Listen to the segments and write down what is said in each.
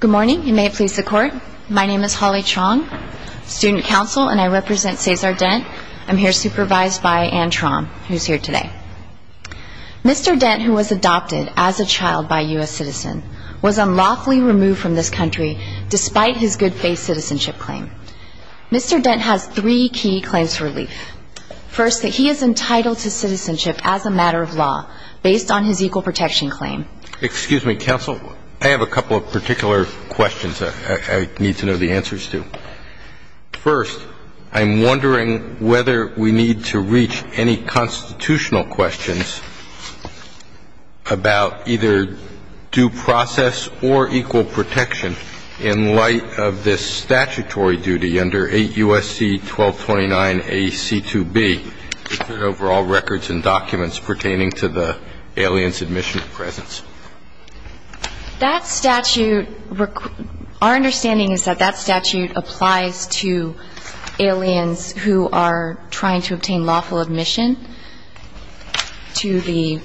Good morning. You may please the court. My name is Holly Chong, student counsel, and I represent Sazar Dent. I'm here supervised by Anne Trom, who's here today. Mr. Dent, who was adopted as a child by a U.S. citizen, was unlawfully removed from this country despite his good faith citizenship claim. Mr. Dent has three key claims for relief. First, that he is entitled to citizenship as a matter of law based on his equal protection claim. Excuse me, counsel. I have a couple of particular questions I need to know the answers to. First, I'm wondering whether we need to reach any constitutional questions about either due process or equal protection in light of this statutory duty under 8 U.S.C. 1229 A.C. 2B, the overall records and documents pertaining to the alien's admission of presence. That statute, our understanding is that that statute applies to aliens who are trying to obtain lawful admission to the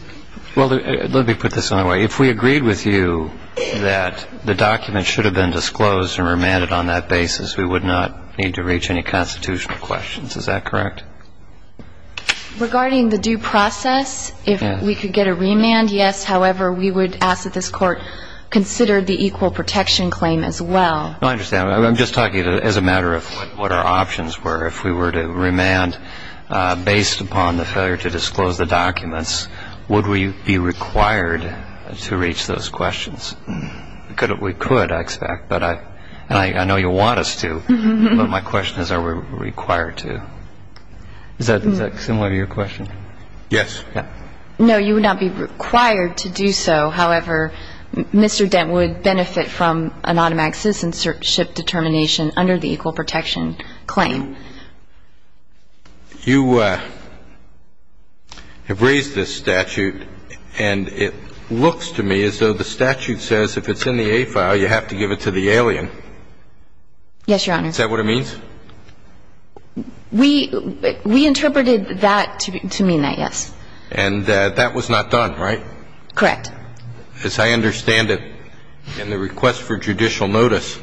---- Well, let me put this another way. If we agreed with you that the documents should have been disclosed and remanded on that basis, we would not need to reach any constitutional questions. Is that correct? Regarding the due process, if we could get a remand, yes. However, we would ask that this Court consider the equal protection claim as well. I understand. I'm just talking as a matter of what our options were. If we were to remand based upon the failure to disclose the documents, would we be required to reach those questions? We could, I expect. But I know you want us to. But my question is, are we required to? Is that similar to your question? Yes. No, you would not be required to do so. However, Mr. Dent would benefit from an automatic citizenship determination under the equal protection claim. You have raised this statute, and it looks to me as though the statute says if it's in the A file, you have to give it to the alien. Yes, Your Honor. Is that what it means? We interpreted that to mean that, yes. And that was not done, right? Correct. As I understand it, in the request for judicial notice,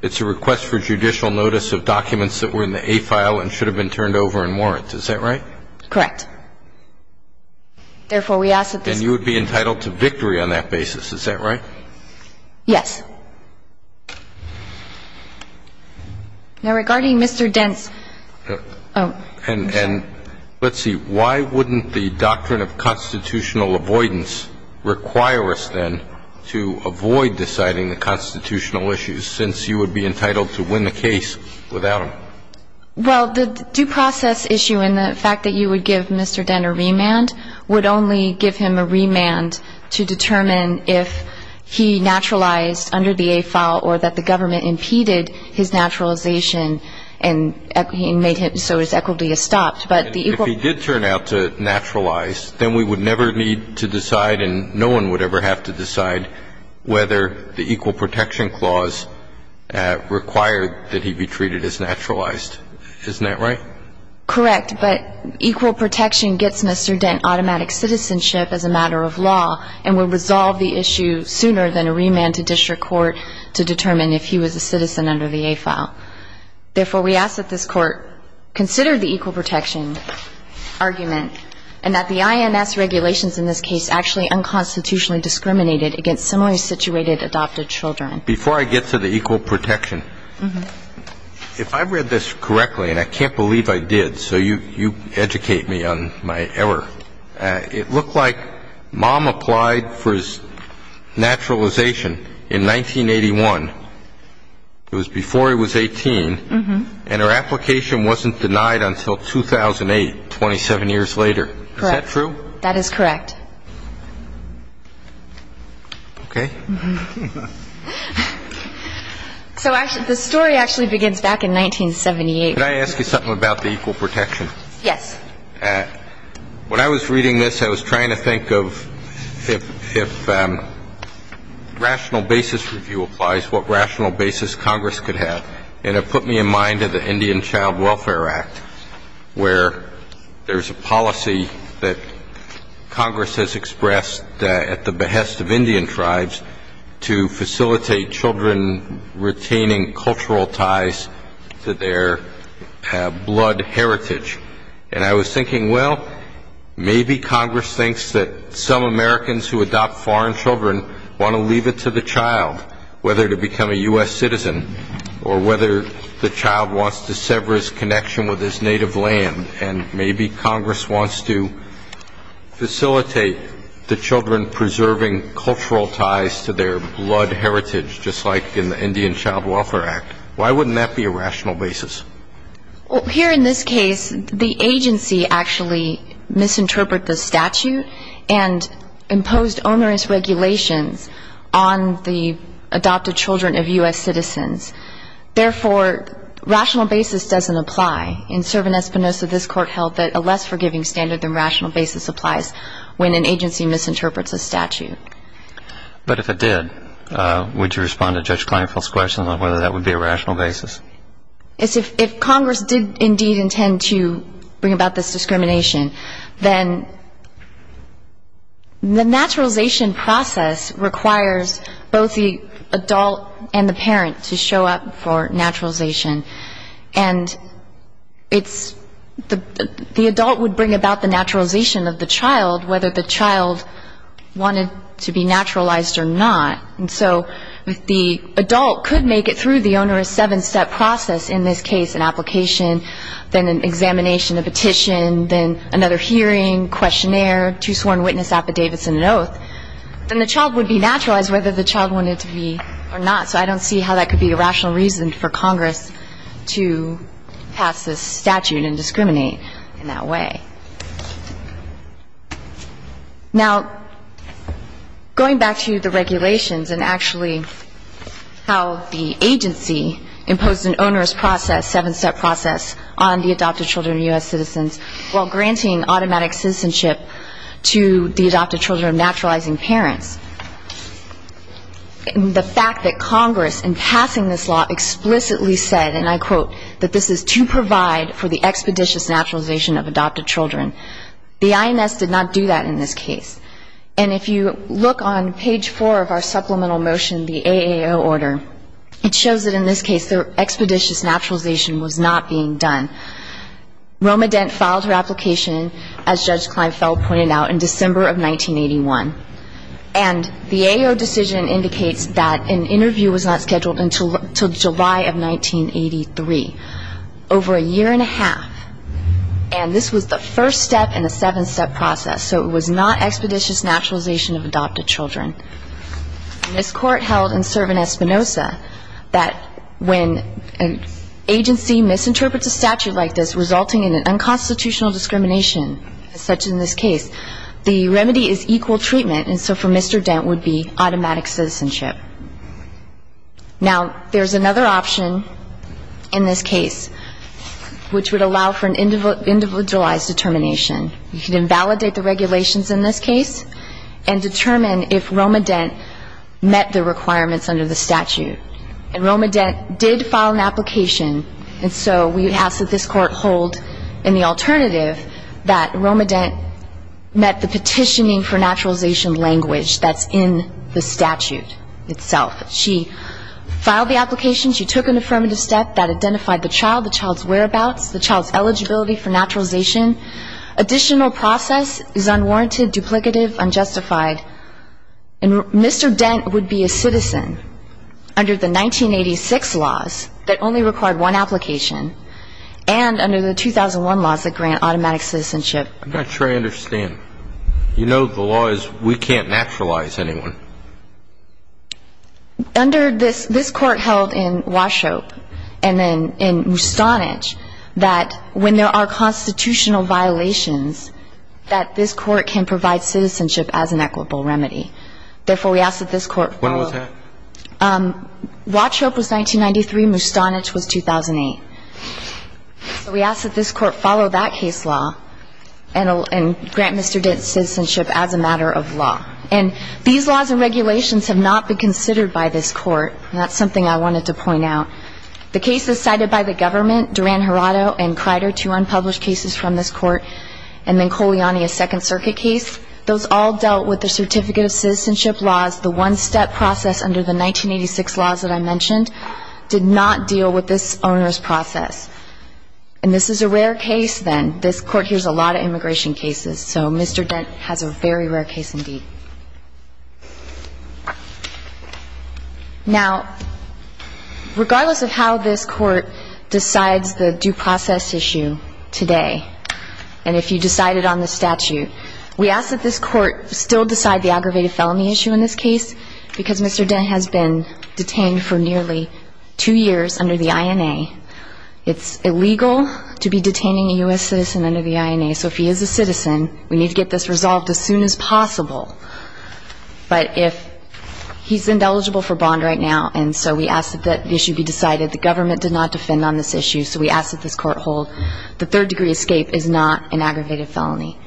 it's a request for judicial notice of documents that were in the A file and should have been turned over in warrants. Is that right? Correct. Therefore, we ask that this be the case. And you would be entitled to victory on that basis. Is that right? Yes. Now, regarding Mr. Dent's own case. And let's see. Why wouldn't the doctrine of constitutional avoidance require us then to avoid deciding the constitutional issues, since you would be entitled to win the case without them? Well, the due process issue and the fact that you would give Mr. Dent a remand would only give him a remand to determine if he naturalized under the A file or that the government impeded his naturalization and made him so his equity is stopped. But the equal protection claims. If he did turn out to naturalize, then we would never need to decide and no one would ever have to decide whether the equal protection clause required that he be treated as naturalized. Isn't that right? Correct. But equal protection gets Mr. Dent automatic citizenship as a matter of law and would resolve the issue sooner than a remand to district court to determine if he was a citizen under the A file. Therefore, we ask that this Court consider the equal protection argument and that the INS regulations in this case actually unconstitutionally discriminated against similarly situated adopted children. Before I get to the equal protection, if I read this correctly, and I can't believe I did, so you educate me on my error, it looked like Mom applied for his naturalization in 1981. It was before he was 18. And her application wasn't denied until 2008, 27 years later. Is that true? That is correct. Okay. So the story actually begins back in 1978. Can I ask you something about the equal protection? Yes. When I was reading this, I was trying to think of if rational basis review applies, what rational basis Congress could have. And it put me in mind of the Indian Child Welfare Act, where there's a policy that Congress has expressed at the behest of Indian tribes to facilitate children retaining cultural ties to their blood heritage. And I was thinking, well, maybe Congress thinks that some Americans who adopt foreign leave it to the child, whether to become a U.S. citizen, or whether the child wants to sever his connection with his native land, and maybe Congress wants to facilitate the children preserving cultural ties to their blood heritage, just like in the Indian Child Welfare Act. Why wouldn't that be a rational basis? Well, here in this case, the agency actually misinterpreted the statute and imposed onerous regulations on the adopted children of U.S. citizens. Therefore, rational basis doesn't apply. In Cervin-Espinosa, this Court held that a less forgiving standard than rational basis applies when an agency misinterprets a statute. But if it did, would you respond to Judge Kleinfeld's question on whether that would be a rational basis? If Congress did indeed intend to bring about this discrimination, then the naturalization process requires both the adult and the parent to show up for naturalization. And the adult would bring about the naturalization of the child, whether the child wanted to be naturalized or not. And so if the adult could make it through the onerous seven-step process, in this case an application, then an examination, a petition, then another hearing, questionnaire, two sworn witness affidavits and an oath, then the child would be naturalized, whether the child wanted to be or not. So I don't see how that could be a rational reason for Congress to pass this statute and discriminate in that way. Now, going back to the regulations and actually how the agency imposed an onerous process, seven-step process, on the adopted children of U.S. citizens while granting automatic citizenship to the adopted children of naturalizing parents, the fact that Congress in passing this law explicitly said, and I quote, that this is to provide for the expeditious naturalization of adopted children, the IMS did not do that in this case. And if you look on page four of our supplemental motion, the AAO order, it shows that in this case the expeditious naturalization was not being done. Roma Dent filed her application, as Judge Kleinfeld pointed out, in December of 1981. And the AAO decision indicates that an interview was not scheduled until July of 1983. Over a year and a half, and this was the first step in the seven-step process, so it was not expeditious naturalization of adopted children. And this Court held in Servan-Espinosa that when an agency misinterprets a statute like this, resulting in an unconstitutional discrimination such in this case, the remedy is equal treatment, and so for Mr. Dent would be automatic citizenship. Now, there's another option in this case which would allow for an individualized determination. You can invalidate the regulations in this case and determine if Roma Dent met the requirements under the statute. And Roma Dent did file an application, and so we ask that this Court hold in the alternative that Roma Dent met the petitioning for naturalization language that's in the statute. She filed the application, she took an affirmative step that identified the child, the child's whereabouts, the child's eligibility for naturalization. Additional process is unwarranted, duplicative, unjustified. And Mr. Dent would be a citizen under the 1986 laws that only required one application and under the 2001 laws that grant automatic citizenship. I'm not sure I understand. You know the law is we can't naturalize anyone. Under this Court held in Washope and then in Mustanich that when there are constitutional violations, that this Court can provide citizenship as an equitable remedy. Therefore, we ask that this Court follow. When was that? Washope was 1993, Mustanich was 2008. So we ask that this Court follow that case law and grant Mr. Dent citizenship as a matter of law. And these laws and regulations have not been considered by this Court. And that's something I wanted to point out. The cases cited by the government, Duran-Hirado and Crider, two unpublished cases from this Court, and then Coliani, a Second Circuit case, those all dealt with the certificate of citizenship laws. The one-step process under the 1986 laws that I mentioned did not deal with this owner's process. And this is a rare case then. This Court hears a lot of immigration cases, so Mr. Dent has a very rare case indeed. Now, regardless of how this Court decides the due process issue today, and if you decide it on the statute, we ask that this Court still decide the aggravated felony issue in this case, because Mr. Dent has been detained for nearly two years under the INA, it's illegal to be detaining a U.S. citizen under the INA. So if he is a citizen, we need to get this resolved as soon as possible. But if he's ineligible for bond right now, and so we ask that the issue be decided, the government did not defend on this issue, so we ask that this Court hold the third-degree escape is not an aggravated felony.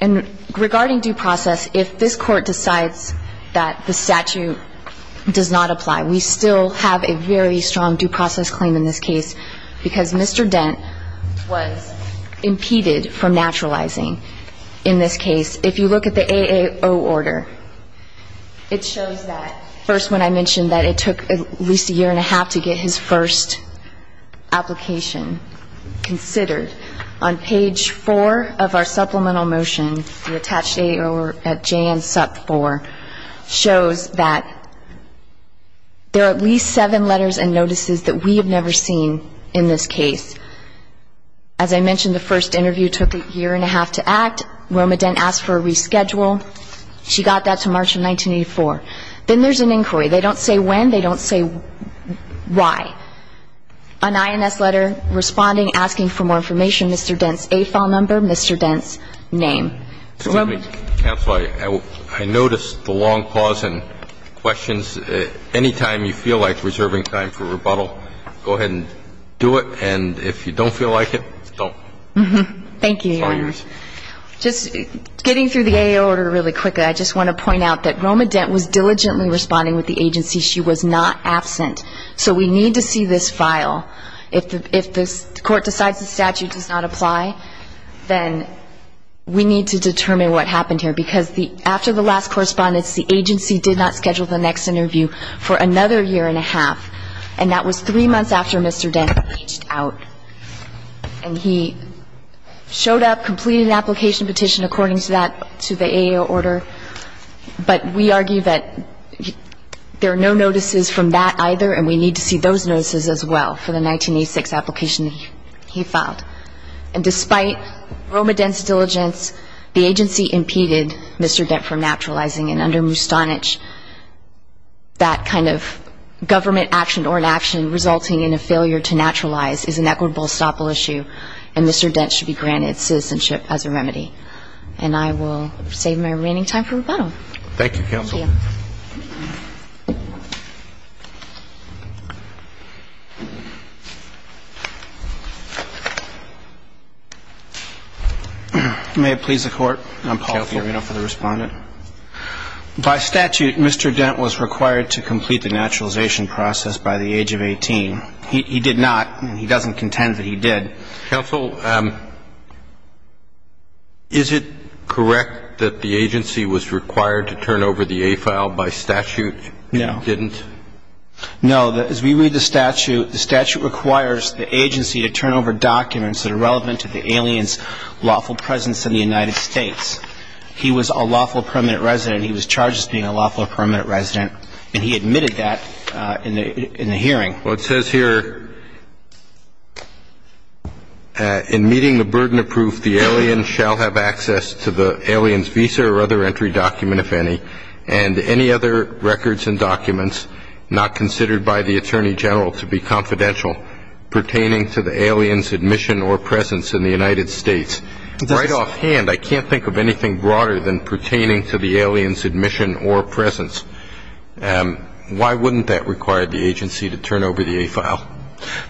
And regarding due process, if this Court decides that the statute does not apply, we still have a very strong due process claim in this case, because Mr. Dent was impeded from naturalizing in this case. If you look at the AAO order, it shows that, first when I mentioned that it took at least a year and a half to get his first application considered, on page 4 of our supplemental motion, the attached AAO at J and Sup 4, shows that Mr. Dent was impeded from naturalizing. There are at least seven letters and notices that we have never seen in this case. As I mentioned, the first interview took a year and a half to act. Roma Dent asked for a reschedule. She got that to March of 1984. Then there's an inquiry. They don't say when, they don't say why. An INS letter responding, asking for more information, Mr. Dent's AFAL number, Mr. Dent's name. Excuse me, Counsel, I noticed the long pause in questions. Anytime you feel like reserving time for rebuttal, go ahead and do it. And if you don't feel like it, don't. Thank you, Your Honor. Just getting through the AAO order really quick, I just want to point out that Roma Dent was diligently responding with the agency. She was not absent. So we need to see this file. If the court decides the statute does not apply, then we need to determine what happened here. Because after the last correspondence, the agency did not schedule the next interview. For another year and a half. And that was three months after Mr. Dent reached out. And he showed up, completed an application petition according to that, to the AAO order. But we argue that there are no notices from that either. And we need to see those notices as well for the 1986 application he filed. And despite Roma Dent's diligence, the agency impeded Mr. Dent from naturalizing. And under Mustanich, that kind of government action or inaction resulting in a failure to naturalize is an equitable estoppel issue. And Mr. Dent should be granted citizenship as a remedy. And I will save my remaining time for rebuttal. Thank you. May it please the Court. I'm Paul Fiorino for the Respondent. By statute, Mr. Dent was required to complete the naturalization process by the age of 18. He did not. He doesn't contend that he did. Counsel, is it correct that the agency was required to turn over the A file by statute? Yes. No. No, as we read the statute, the statute requires the agency to turn over documents that are relevant to the alien's lawful presence in the United States. He was a lawful permanent resident. He was charged as being a lawful permanent resident. And he admitted that in the hearing. Well, it says here, in meeting the burden of proof, the alien shall have access to the alien's visa or other entry document, if any. And any other records and documents not considered by the Attorney General to be confidential pertaining to the alien's admission or presence in the United States. Right offhand, I can't think of anything broader than pertaining to the alien's admission or presence. Why wouldn't that require the agency to turn over the A file?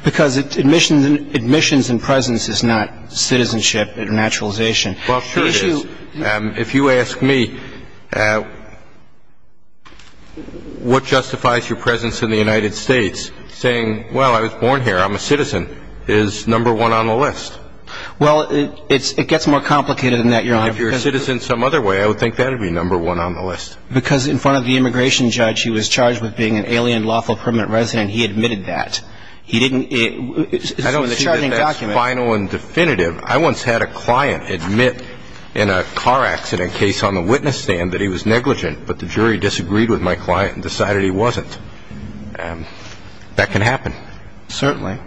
Because admissions and presence is not citizenship and naturalization. Well, sure it is. If you ask me, what justifies your presence in the United States saying, well, I was born here, I'm a citizen, is number one on the list. Well, it gets more complicated than that, Your Honor. If you're a citizen some other way, I would think that would be number one on the list. Because in front of the immigration judge, he was charged with being an alien lawful permanent resident. He admitted that. I don't see that that's final and definitive. I once had a client admit in a car accident case on the witness stand that he was negligent. But the jury disagreed with my client and decided he wasn't. That can happen. Certainly.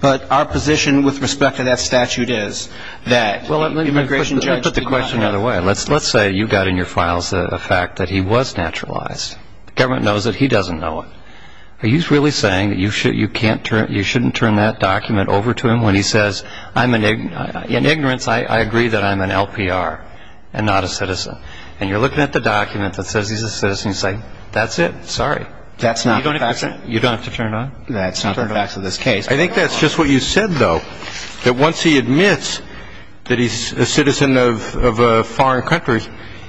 But our position with respect to that statute is that the immigration judge did not. Well, let me put the question out of the way. Let's say you got in your files the fact that he was naturalized. The government knows it. He doesn't know it. Are you really saying that you shouldn't turn that document over to him when he says, in ignorance, I agree that I'm an LPR and not a citizen? And you're looking at the document that says he's a citizen and you say, that's it? Sorry. You don't have to turn it on? That's not the facts of this case. I think that's just what you said, though, that once he admits that he's a citizen of a foreign country,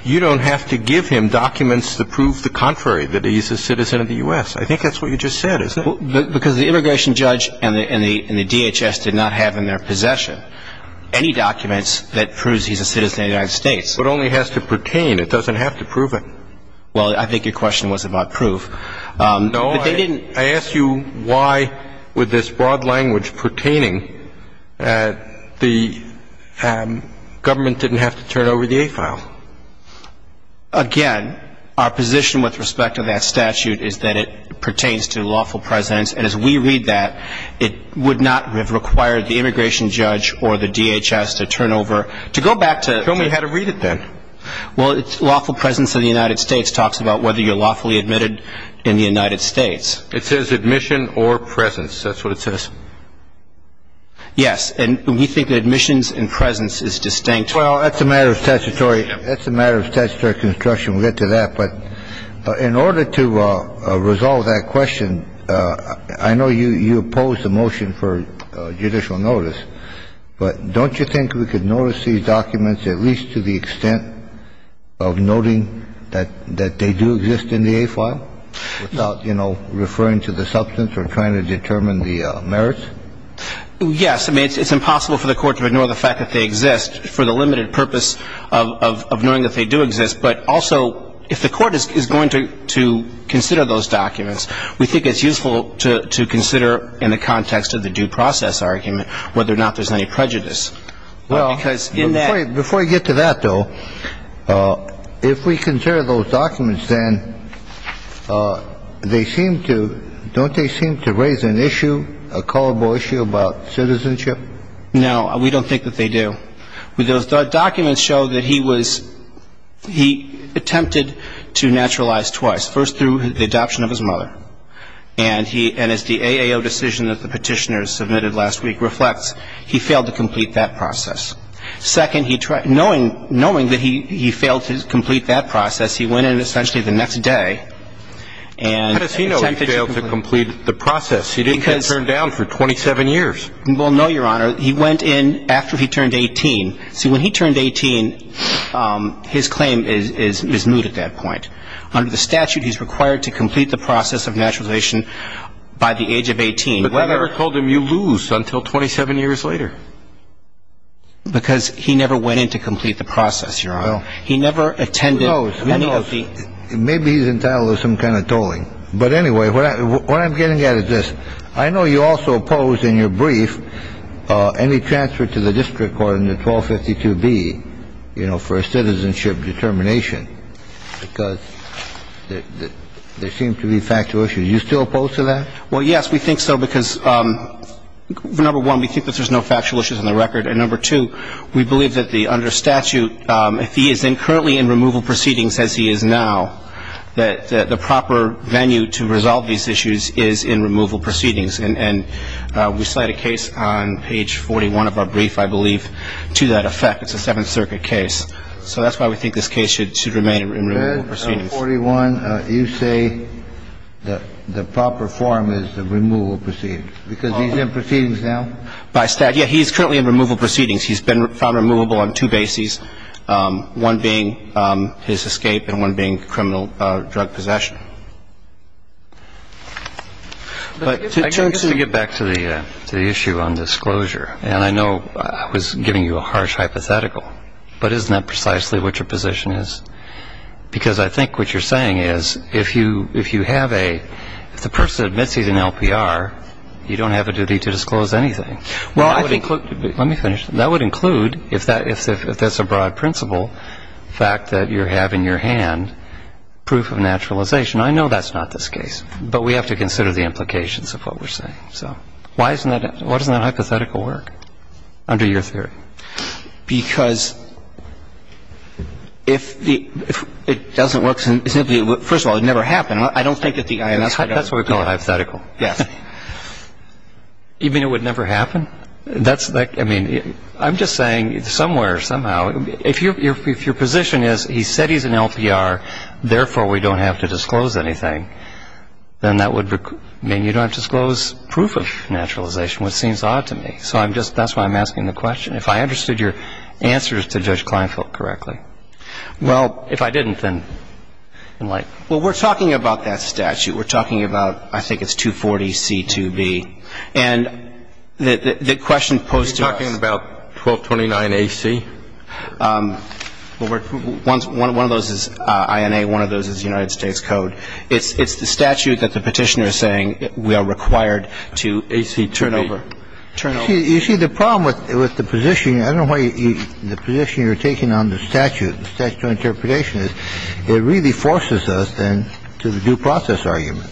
you don't have to give him documents to prove the contrary, that he's a citizen of the U.S. I think that's what you just said, isn't it? Because the immigration judge and the DHS did not have in their possession any documents that proves he's a citizen of the United States. It only has to pertain. It doesn't have to prove it. Well, I think your question was about proof. No, I asked you why, with this broad language pertaining, the government didn't have to turn over the A file. Again, our position with respect to that statute is that it pertains to lawful presence. And as we read that, it would not have required the immigration judge or the DHS to turn over. Tell me how to read it, then. Well, lawful presence of the United States talks about whether you're lawfully admitted in the United States. It says admission or presence. That's what it says. Yes. And we think admissions and presence is distinct. Well, that's a matter of statutory construction. We'll get to that. But in order to resolve that question, I know you oppose the motion for judicial notice, but don't you think we could notice these documents at least to the extent of noting that they do exist in the A file without, you know, referring to the substance or trying to determine the merits? Yes. I mean, it's impossible for the Court to ignore the fact that they exist for the limited purpose of knowing that they do exist. But also, if the Court is going to consider those documents, we think it's useful to consider in the context of the due process argument whether or not there's any prejudice, because in that ---- Well, we don't think that they do. Those documents show that he attempted to naturalize twice, first through the adoption of his mother, and as the AAO decision that the petitioners submitted last week reflects, he failed to complete that process. Second, knowing that he failed to complete that process, he went in essentially the next day and attempted to complete it. How does he know he failed to complete the process? He didn't get turned down for 27 years. Well, no, Your Honor. He went in after he turned 18. See, when he turned 18, his claim is moot at that point. Under the statute, he's required to complete the process of naturalization by the age of 18. But that never told him you lose until 27 years later. Because he never went in to complete the process, Your Honor. No. He never attended any of the ---- Who knows? Maybe he's entitled to some kind of tolling. But anyway, what I'm getting at is this. I know you also opposed in your brief any transfer to the district court in the 1252B, you know, for a citizenship determination because there seem to be factual issues. Are you still opposed to that? Well, yes, we think so because, number one, we think that there's no factual issues on the record. And, number two, we believe that the under statute, if he is currently in removal proceedings as he is now, that the proper venue to resolve these issues is in removal proceedings. And we cite a case on page 41 of our brief, I believe, to that effect. It's a Seventh Circuit case. So that's why we think this case should remain in removal proceedings. Page 41, you say the proper form is the removal proceedings because he's in proceedings now? By statute. Yeah, he's currently in removal proceedings. He's been found removable on two bases, one being his escape and one being criminal drug possession. To get back to the issue on disclosure, and I know I was giving you a harsh hypothetical, but isn't that precisely what your position is? Because I think what you're saying is if you have a ---- if the person admits he's an LPR, you don't have a duty to disclose anything. Well, I think ---- Let me finish. That would include, if that's a broad principle, the fact that you have in your hand proof of naturalization. I know that's not this case, but we have to consider the implications of what we're saying. So why isn't that ---- why doesn't that hypothetical work under your theory? Because if the ---- if it doesn't work, first of all, it would never happen. I don't think that the ---- That's why we call it hypothetical. Yes. You mean it would never happen? That's like ---- I mean, I'm just saying somewhere, somehow, if your position is he said he's an LPR, therefore, we don't have to disclose anything, then that would mean you don't have to disclose proof of naturalization, which seems odd to me. So I'm just ---- that's why I'm asking the question. If I understood your answers to Judge Kleinfeld correctly. Well, if I didn't, then in light ---- Well, we're talking about that statute. We're talking about, I think it's 240C2B. And the question posed to us ---- Are you talking about 1229AC? Well, we're ---- one of those is INA, one of those is United States Code. It's the statute that the Petitioner is saying we are required to turn over. AC2B. You see, the problem with the position, I don't know why you ---- the position you're taking on the statute, is it really forces us, then, to the due process argument,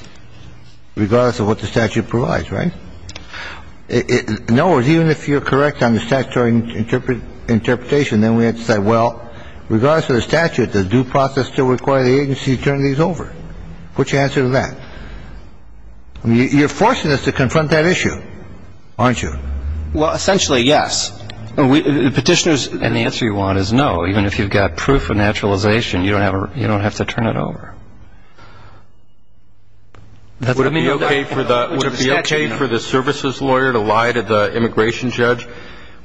regardless of what the statute provides, right? No, even if you're correct on the statutory interpretation, then we have to say, well, regardless of the statute, does due process still require the agency to turn these over? What's your answer to that? You're forcing us to confront that issue, aren't you? Well, essentially, yes. Petitioners, and the answer you want is no. Even if you've got proof of naturalization, you don't have to turn it over. Would it be okay for the services lawyer to lie to the immigration judge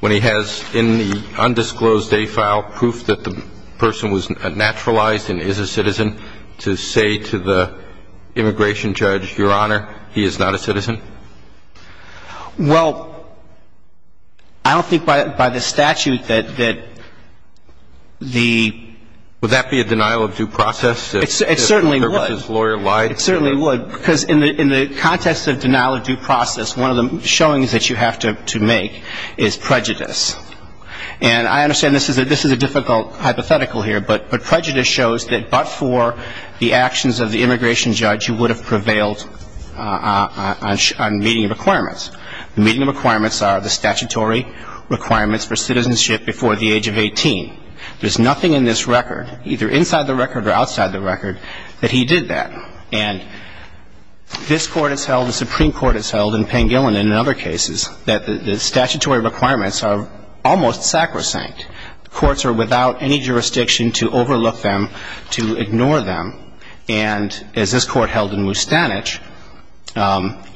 when he has in the undisclosed A file proof that the person was naturalized and is a citizen to say to the immigration judge, Your Honor, he is not a citizen? Well, I don't think by the statute that the ---- Would that be a denial of due process if the services lawyer lied to him? It certainly would. It certainly would. Because in the context of denial of due process, one of the showings that you have to make is prejudice. And I understand this is a difficult hypothetical here, but prejudice shows that but for the actions of the immigration judge, he would have prevailed on meeting the requirements. The meeting of requirements are the statutory requirements for citizenship before the age of 18. There's nothing in this record, either inside the record or outside the record, that he did that. And this Court has held, the Supreme Court has held, and Pangilin and other cases, that the statutory requirements are almost sacrosanct. The courts are without any jurisdiction to overlook them, to ignore them. And as this Court held in Mustanich,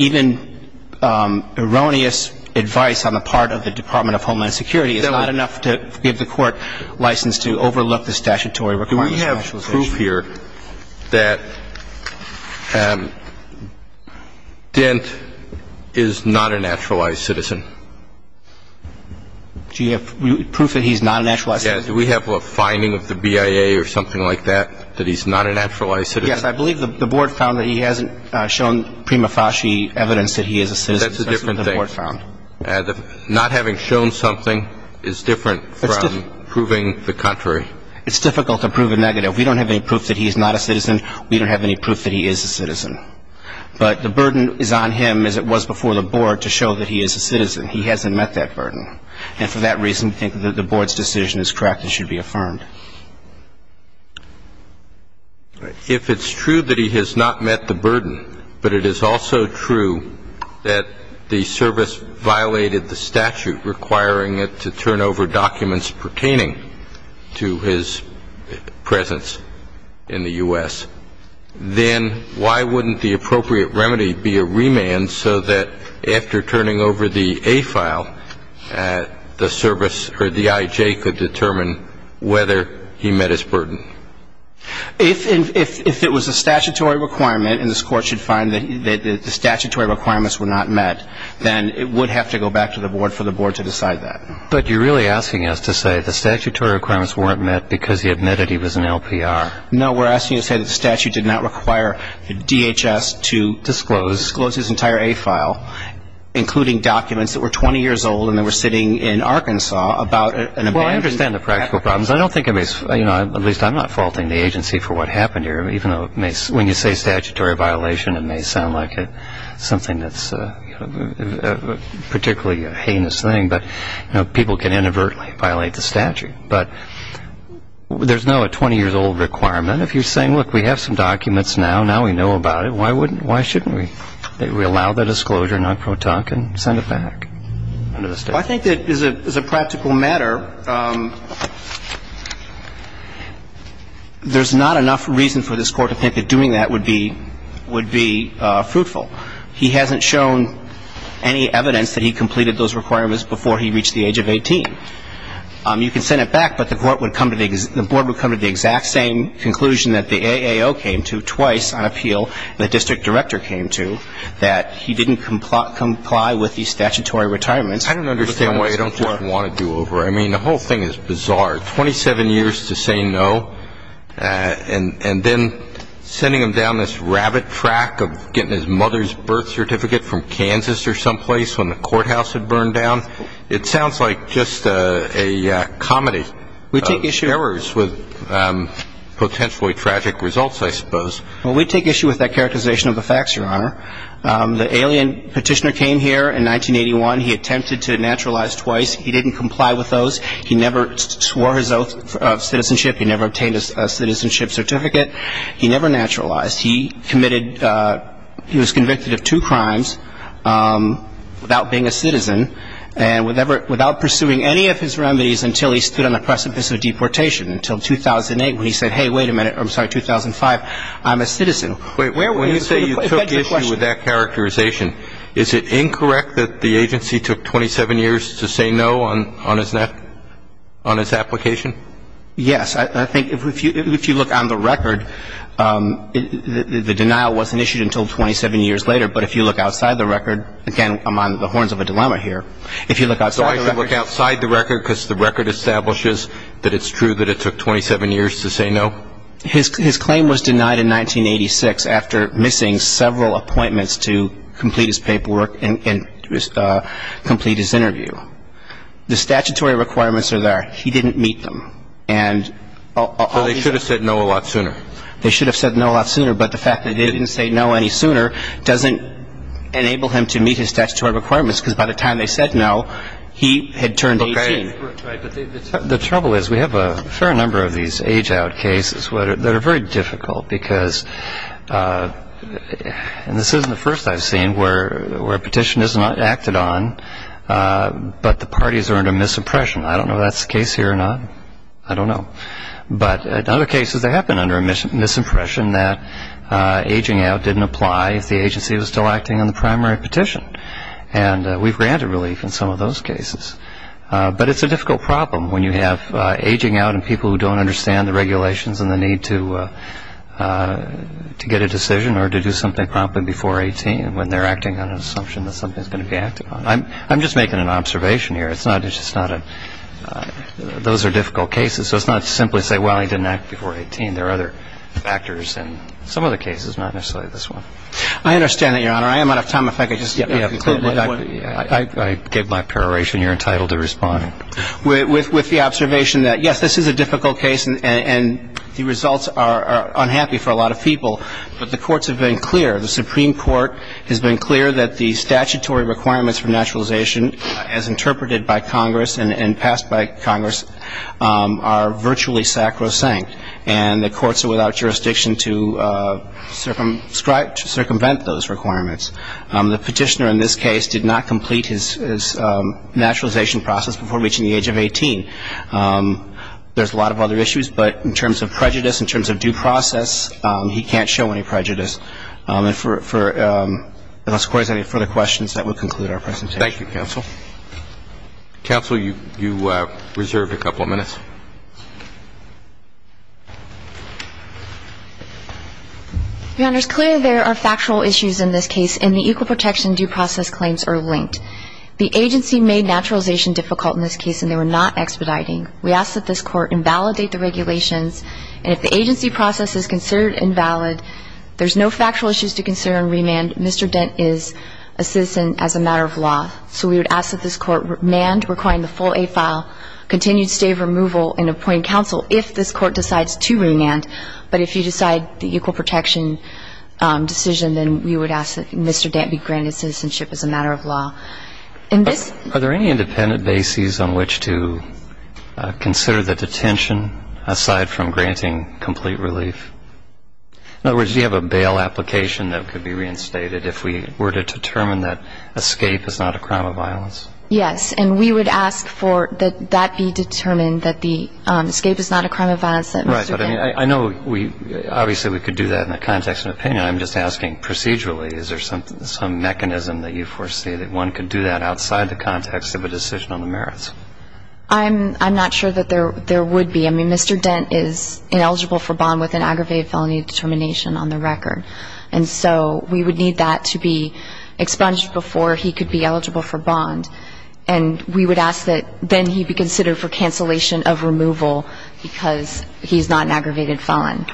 even erroneous advice on the part of the Department of Homeland Security is not enough to give the court license to overlook the statutory requirements for nationalization. Do we have proof here that Dent is not a naturalized citizen? Do you have proof that he's not a naturalized citizen? Do we have a finding of the BIA or something like that, that he's not a naturalized citizen? Yes, I believe the board found that he hasn't shown prima facie evidence that he is a citizen. That's a different thing. Not having shown something is different from proving the contrary. It's difficult to prove a negative. We don't have any proof that he's not a citizen. We don't have any proof that he is a citizen. But the burden is on him, as it was before the board, to show that he is a citizen. He hasn't met that burden. And for that reason, I think that the board's decision is correct and should be affirmed. If it's true that he has not met the burden, but it is also true that the service violated the statute, requiring it to turn over documents pertaining to his presence in the U.S., then why wouldn't the appropriate remedy be a remand so that after turning over the A file, the service or the IJ could determine whether he met his burden? If it was a statutory requirement, and this Court should find that the statutory requirements were not met, then it would have to go back to the board for the board to decide that. But you're really asking us to say the statutory requirements weren't met because he admitted he was an LPR. No, we're asking you to say that the statute did not require DHS to disclose his entire A file, including documents that were 20 years old and that were sitting in Arkansas about an amendment. Well, I understand the practical problems. I don't think it makes – at least I'm not faulting the agency for what happened here, even though when you say statutory violation, it may sound like something that's particularly a heinous thing. But people can inadvertently violate the statute. But there's no 20-years-old requirement. If you're saying, look, we have some documents now. Now we know about it. Why wouldn't – why shouldn't we allow the disclosure, non pro tonque, and send it back under the statute? Well, I think that as a practical matter, there's not enough reason for this Court to think that doing that would be fruitful. He hasn't shown any evidence that he completed those requirements before he reached the age of 18. You can send it back, but the Board would come to the exact same conclusion that the AAO came to twice on appeal the district director came to, that he didn't comply with the statutory retirement. I don't understand why you don't just want to do over. I mean, the whole thing is bizarre. Twenty-seven years to say no, and then sending him down this rabbit track of getting his mother's birth certificate from Kansas or someplace when the courthouse had burned down. It sounds like just a comedy of errors with potentially tragic results, I suppose. Well, we take issue with that characterization of the facts, Your Honor. The alien petitioner came here in 1981. He attempted to naturalize twice. He didn't comply with those. He never swore his oath of citizenship. He never obtained a citizenship certificate. He never naturalized. He committed he was convicted of two crimes without being a citizen and without pursuing any of his remedies until he stood on the precipice of deportation until 2008 when he said, hey, wait a minute, I'm sorry, 2005, I'm a citizen. Wait, when you say you took issue with that characterization, is it incorrect that the agency took 27 years to say no on his application? Yes. I think if you look on the record, the denial wasn't issued until 27 years later. But if you look outside the record, again, I'm on the horns of a dilemma here. If you look outside the record. So I should look outside the record because the record establishes that it's true that it took 27 years to say no? His claim was denied in 1986 after missing several appointments to complete his paperwork and complete his interview. The statutory requirements are there. He didn't meet them. So they should have said no a lot sooner. They should have said no a lot sooner, but the fact that they didn't say no any sooner doesn't enable him to meet his statutory requirements because by the time they said no, he had turned 18. The trouble is we have a fair number of these age out cases that are very difficult because this isn't the first I've seen where a petition is not acted on, but the parties are under misimpression. I don't know if that's the case here or not. I don't know. But in other cases, they have been under misimpression that aging out didn't apply if the agency was still acting on the primary petition. And we've granted relief in some of those cases. But it's a difficult problem when you have aging out and people who don't understand the regulations and the need to get a decision or to do something promptly before 18 when they're acting on an assumption that something is going to be acted on. I'm just making an observation here. It's just not a – those are difficult cases. So it's not to simply say, well, he didn't act before 18. There are other factors in some of the cases, not necessarily this one. I understand that, Your Honor. I am out of time. If I could just conclude. I gave my preparation. You're entitled to respond. With the observation that, yes, this is a difficult case and the results are unhappy for a lot of people, but the courts have been clear, the Supreme Court has been clear that the statutory requirements for naturalization as interpreted by Congress and passed by Congress are virtually sacrosanct. And the courts are without jurisdiction to circumvent those requirements. The petitioner in this case did not complete his naturalization process before reaching the age of 18. There's a lot of other issues. But in terms of prejudice, in terms of due process, he can't show any prejudice. And unless the Court has any further questions, that will conclude our presentation. Thank you, Counsel. Counsel, you reserve a couple of minutes. Your Honor, it's clear there are factual issues in this case, and the equal protection due process claims are linked. The agency made naturalization difficult in this case, and they were not expediting. We ask that this Court invalidate the regulations. And if the agency process is considered invalid, there's no factual issues to consider in remand. Mr. Dent is a citizen as a matter of law. So we would ask that this Court remand, requiring the full A file, continued stave removal, and appoint counsel if this Court decides to remand. But if you decide the equal protection decision, then we would ask that Mr. Dent be granted citizenship as a matter of law. Are there any independent bases on which to consider the detention aside from granting complete relief? In other words, do you have a bail application that could be reinstated if we were to determine that escape is not a crime of violence? Yes. And we would ask for that that be determined, that the escape is not a crime of violence. Right. But I mean, I know obviously we could do that in the context of an opinion. I'm just asking procedurally, is there some mechanism that you foresee that one could do that outside the context of a decision on the merits? I'm not sure that there would be. I mean, Mr. Dent is ineligible for bond with an aggravated felony determination on the record. And so we would need that to be expunged before he could be eligible for bond. And we would ask that then he be considered for cancellation of removal because he's not an aggravated felon.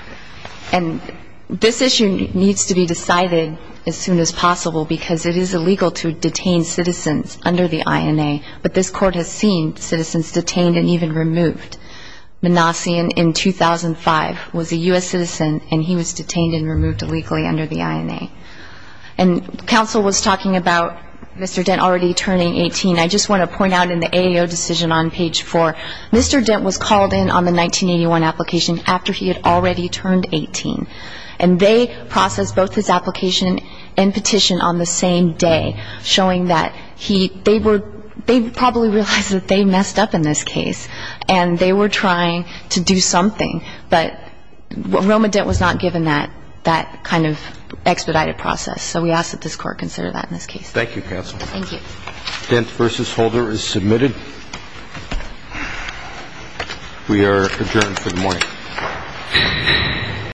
And this issue needs to be decided as soon as possible because it is illegal to detain citizens under the INA. But this court has seen citizens detained and even removed. Manassian in 2005 was a U.S. citizen, and he was detained and removed illegally under the INA. And counsel was talking about Mr. Dent already turning 18. I just want to point out in the AAO decision on page 4, Mr. Dent was called in on the 1981 application after he had already turned 18. And they processed both his application and petition on the same day, showing that they probably realized that they messed up in this case and they were trying to do something. But Roma Dent was not given that kind of expedited process. So we ask that this court consider that in this case. Thank you, counsel. Thank you. Dent v. Holder is submitted. We are adjourned for the morning.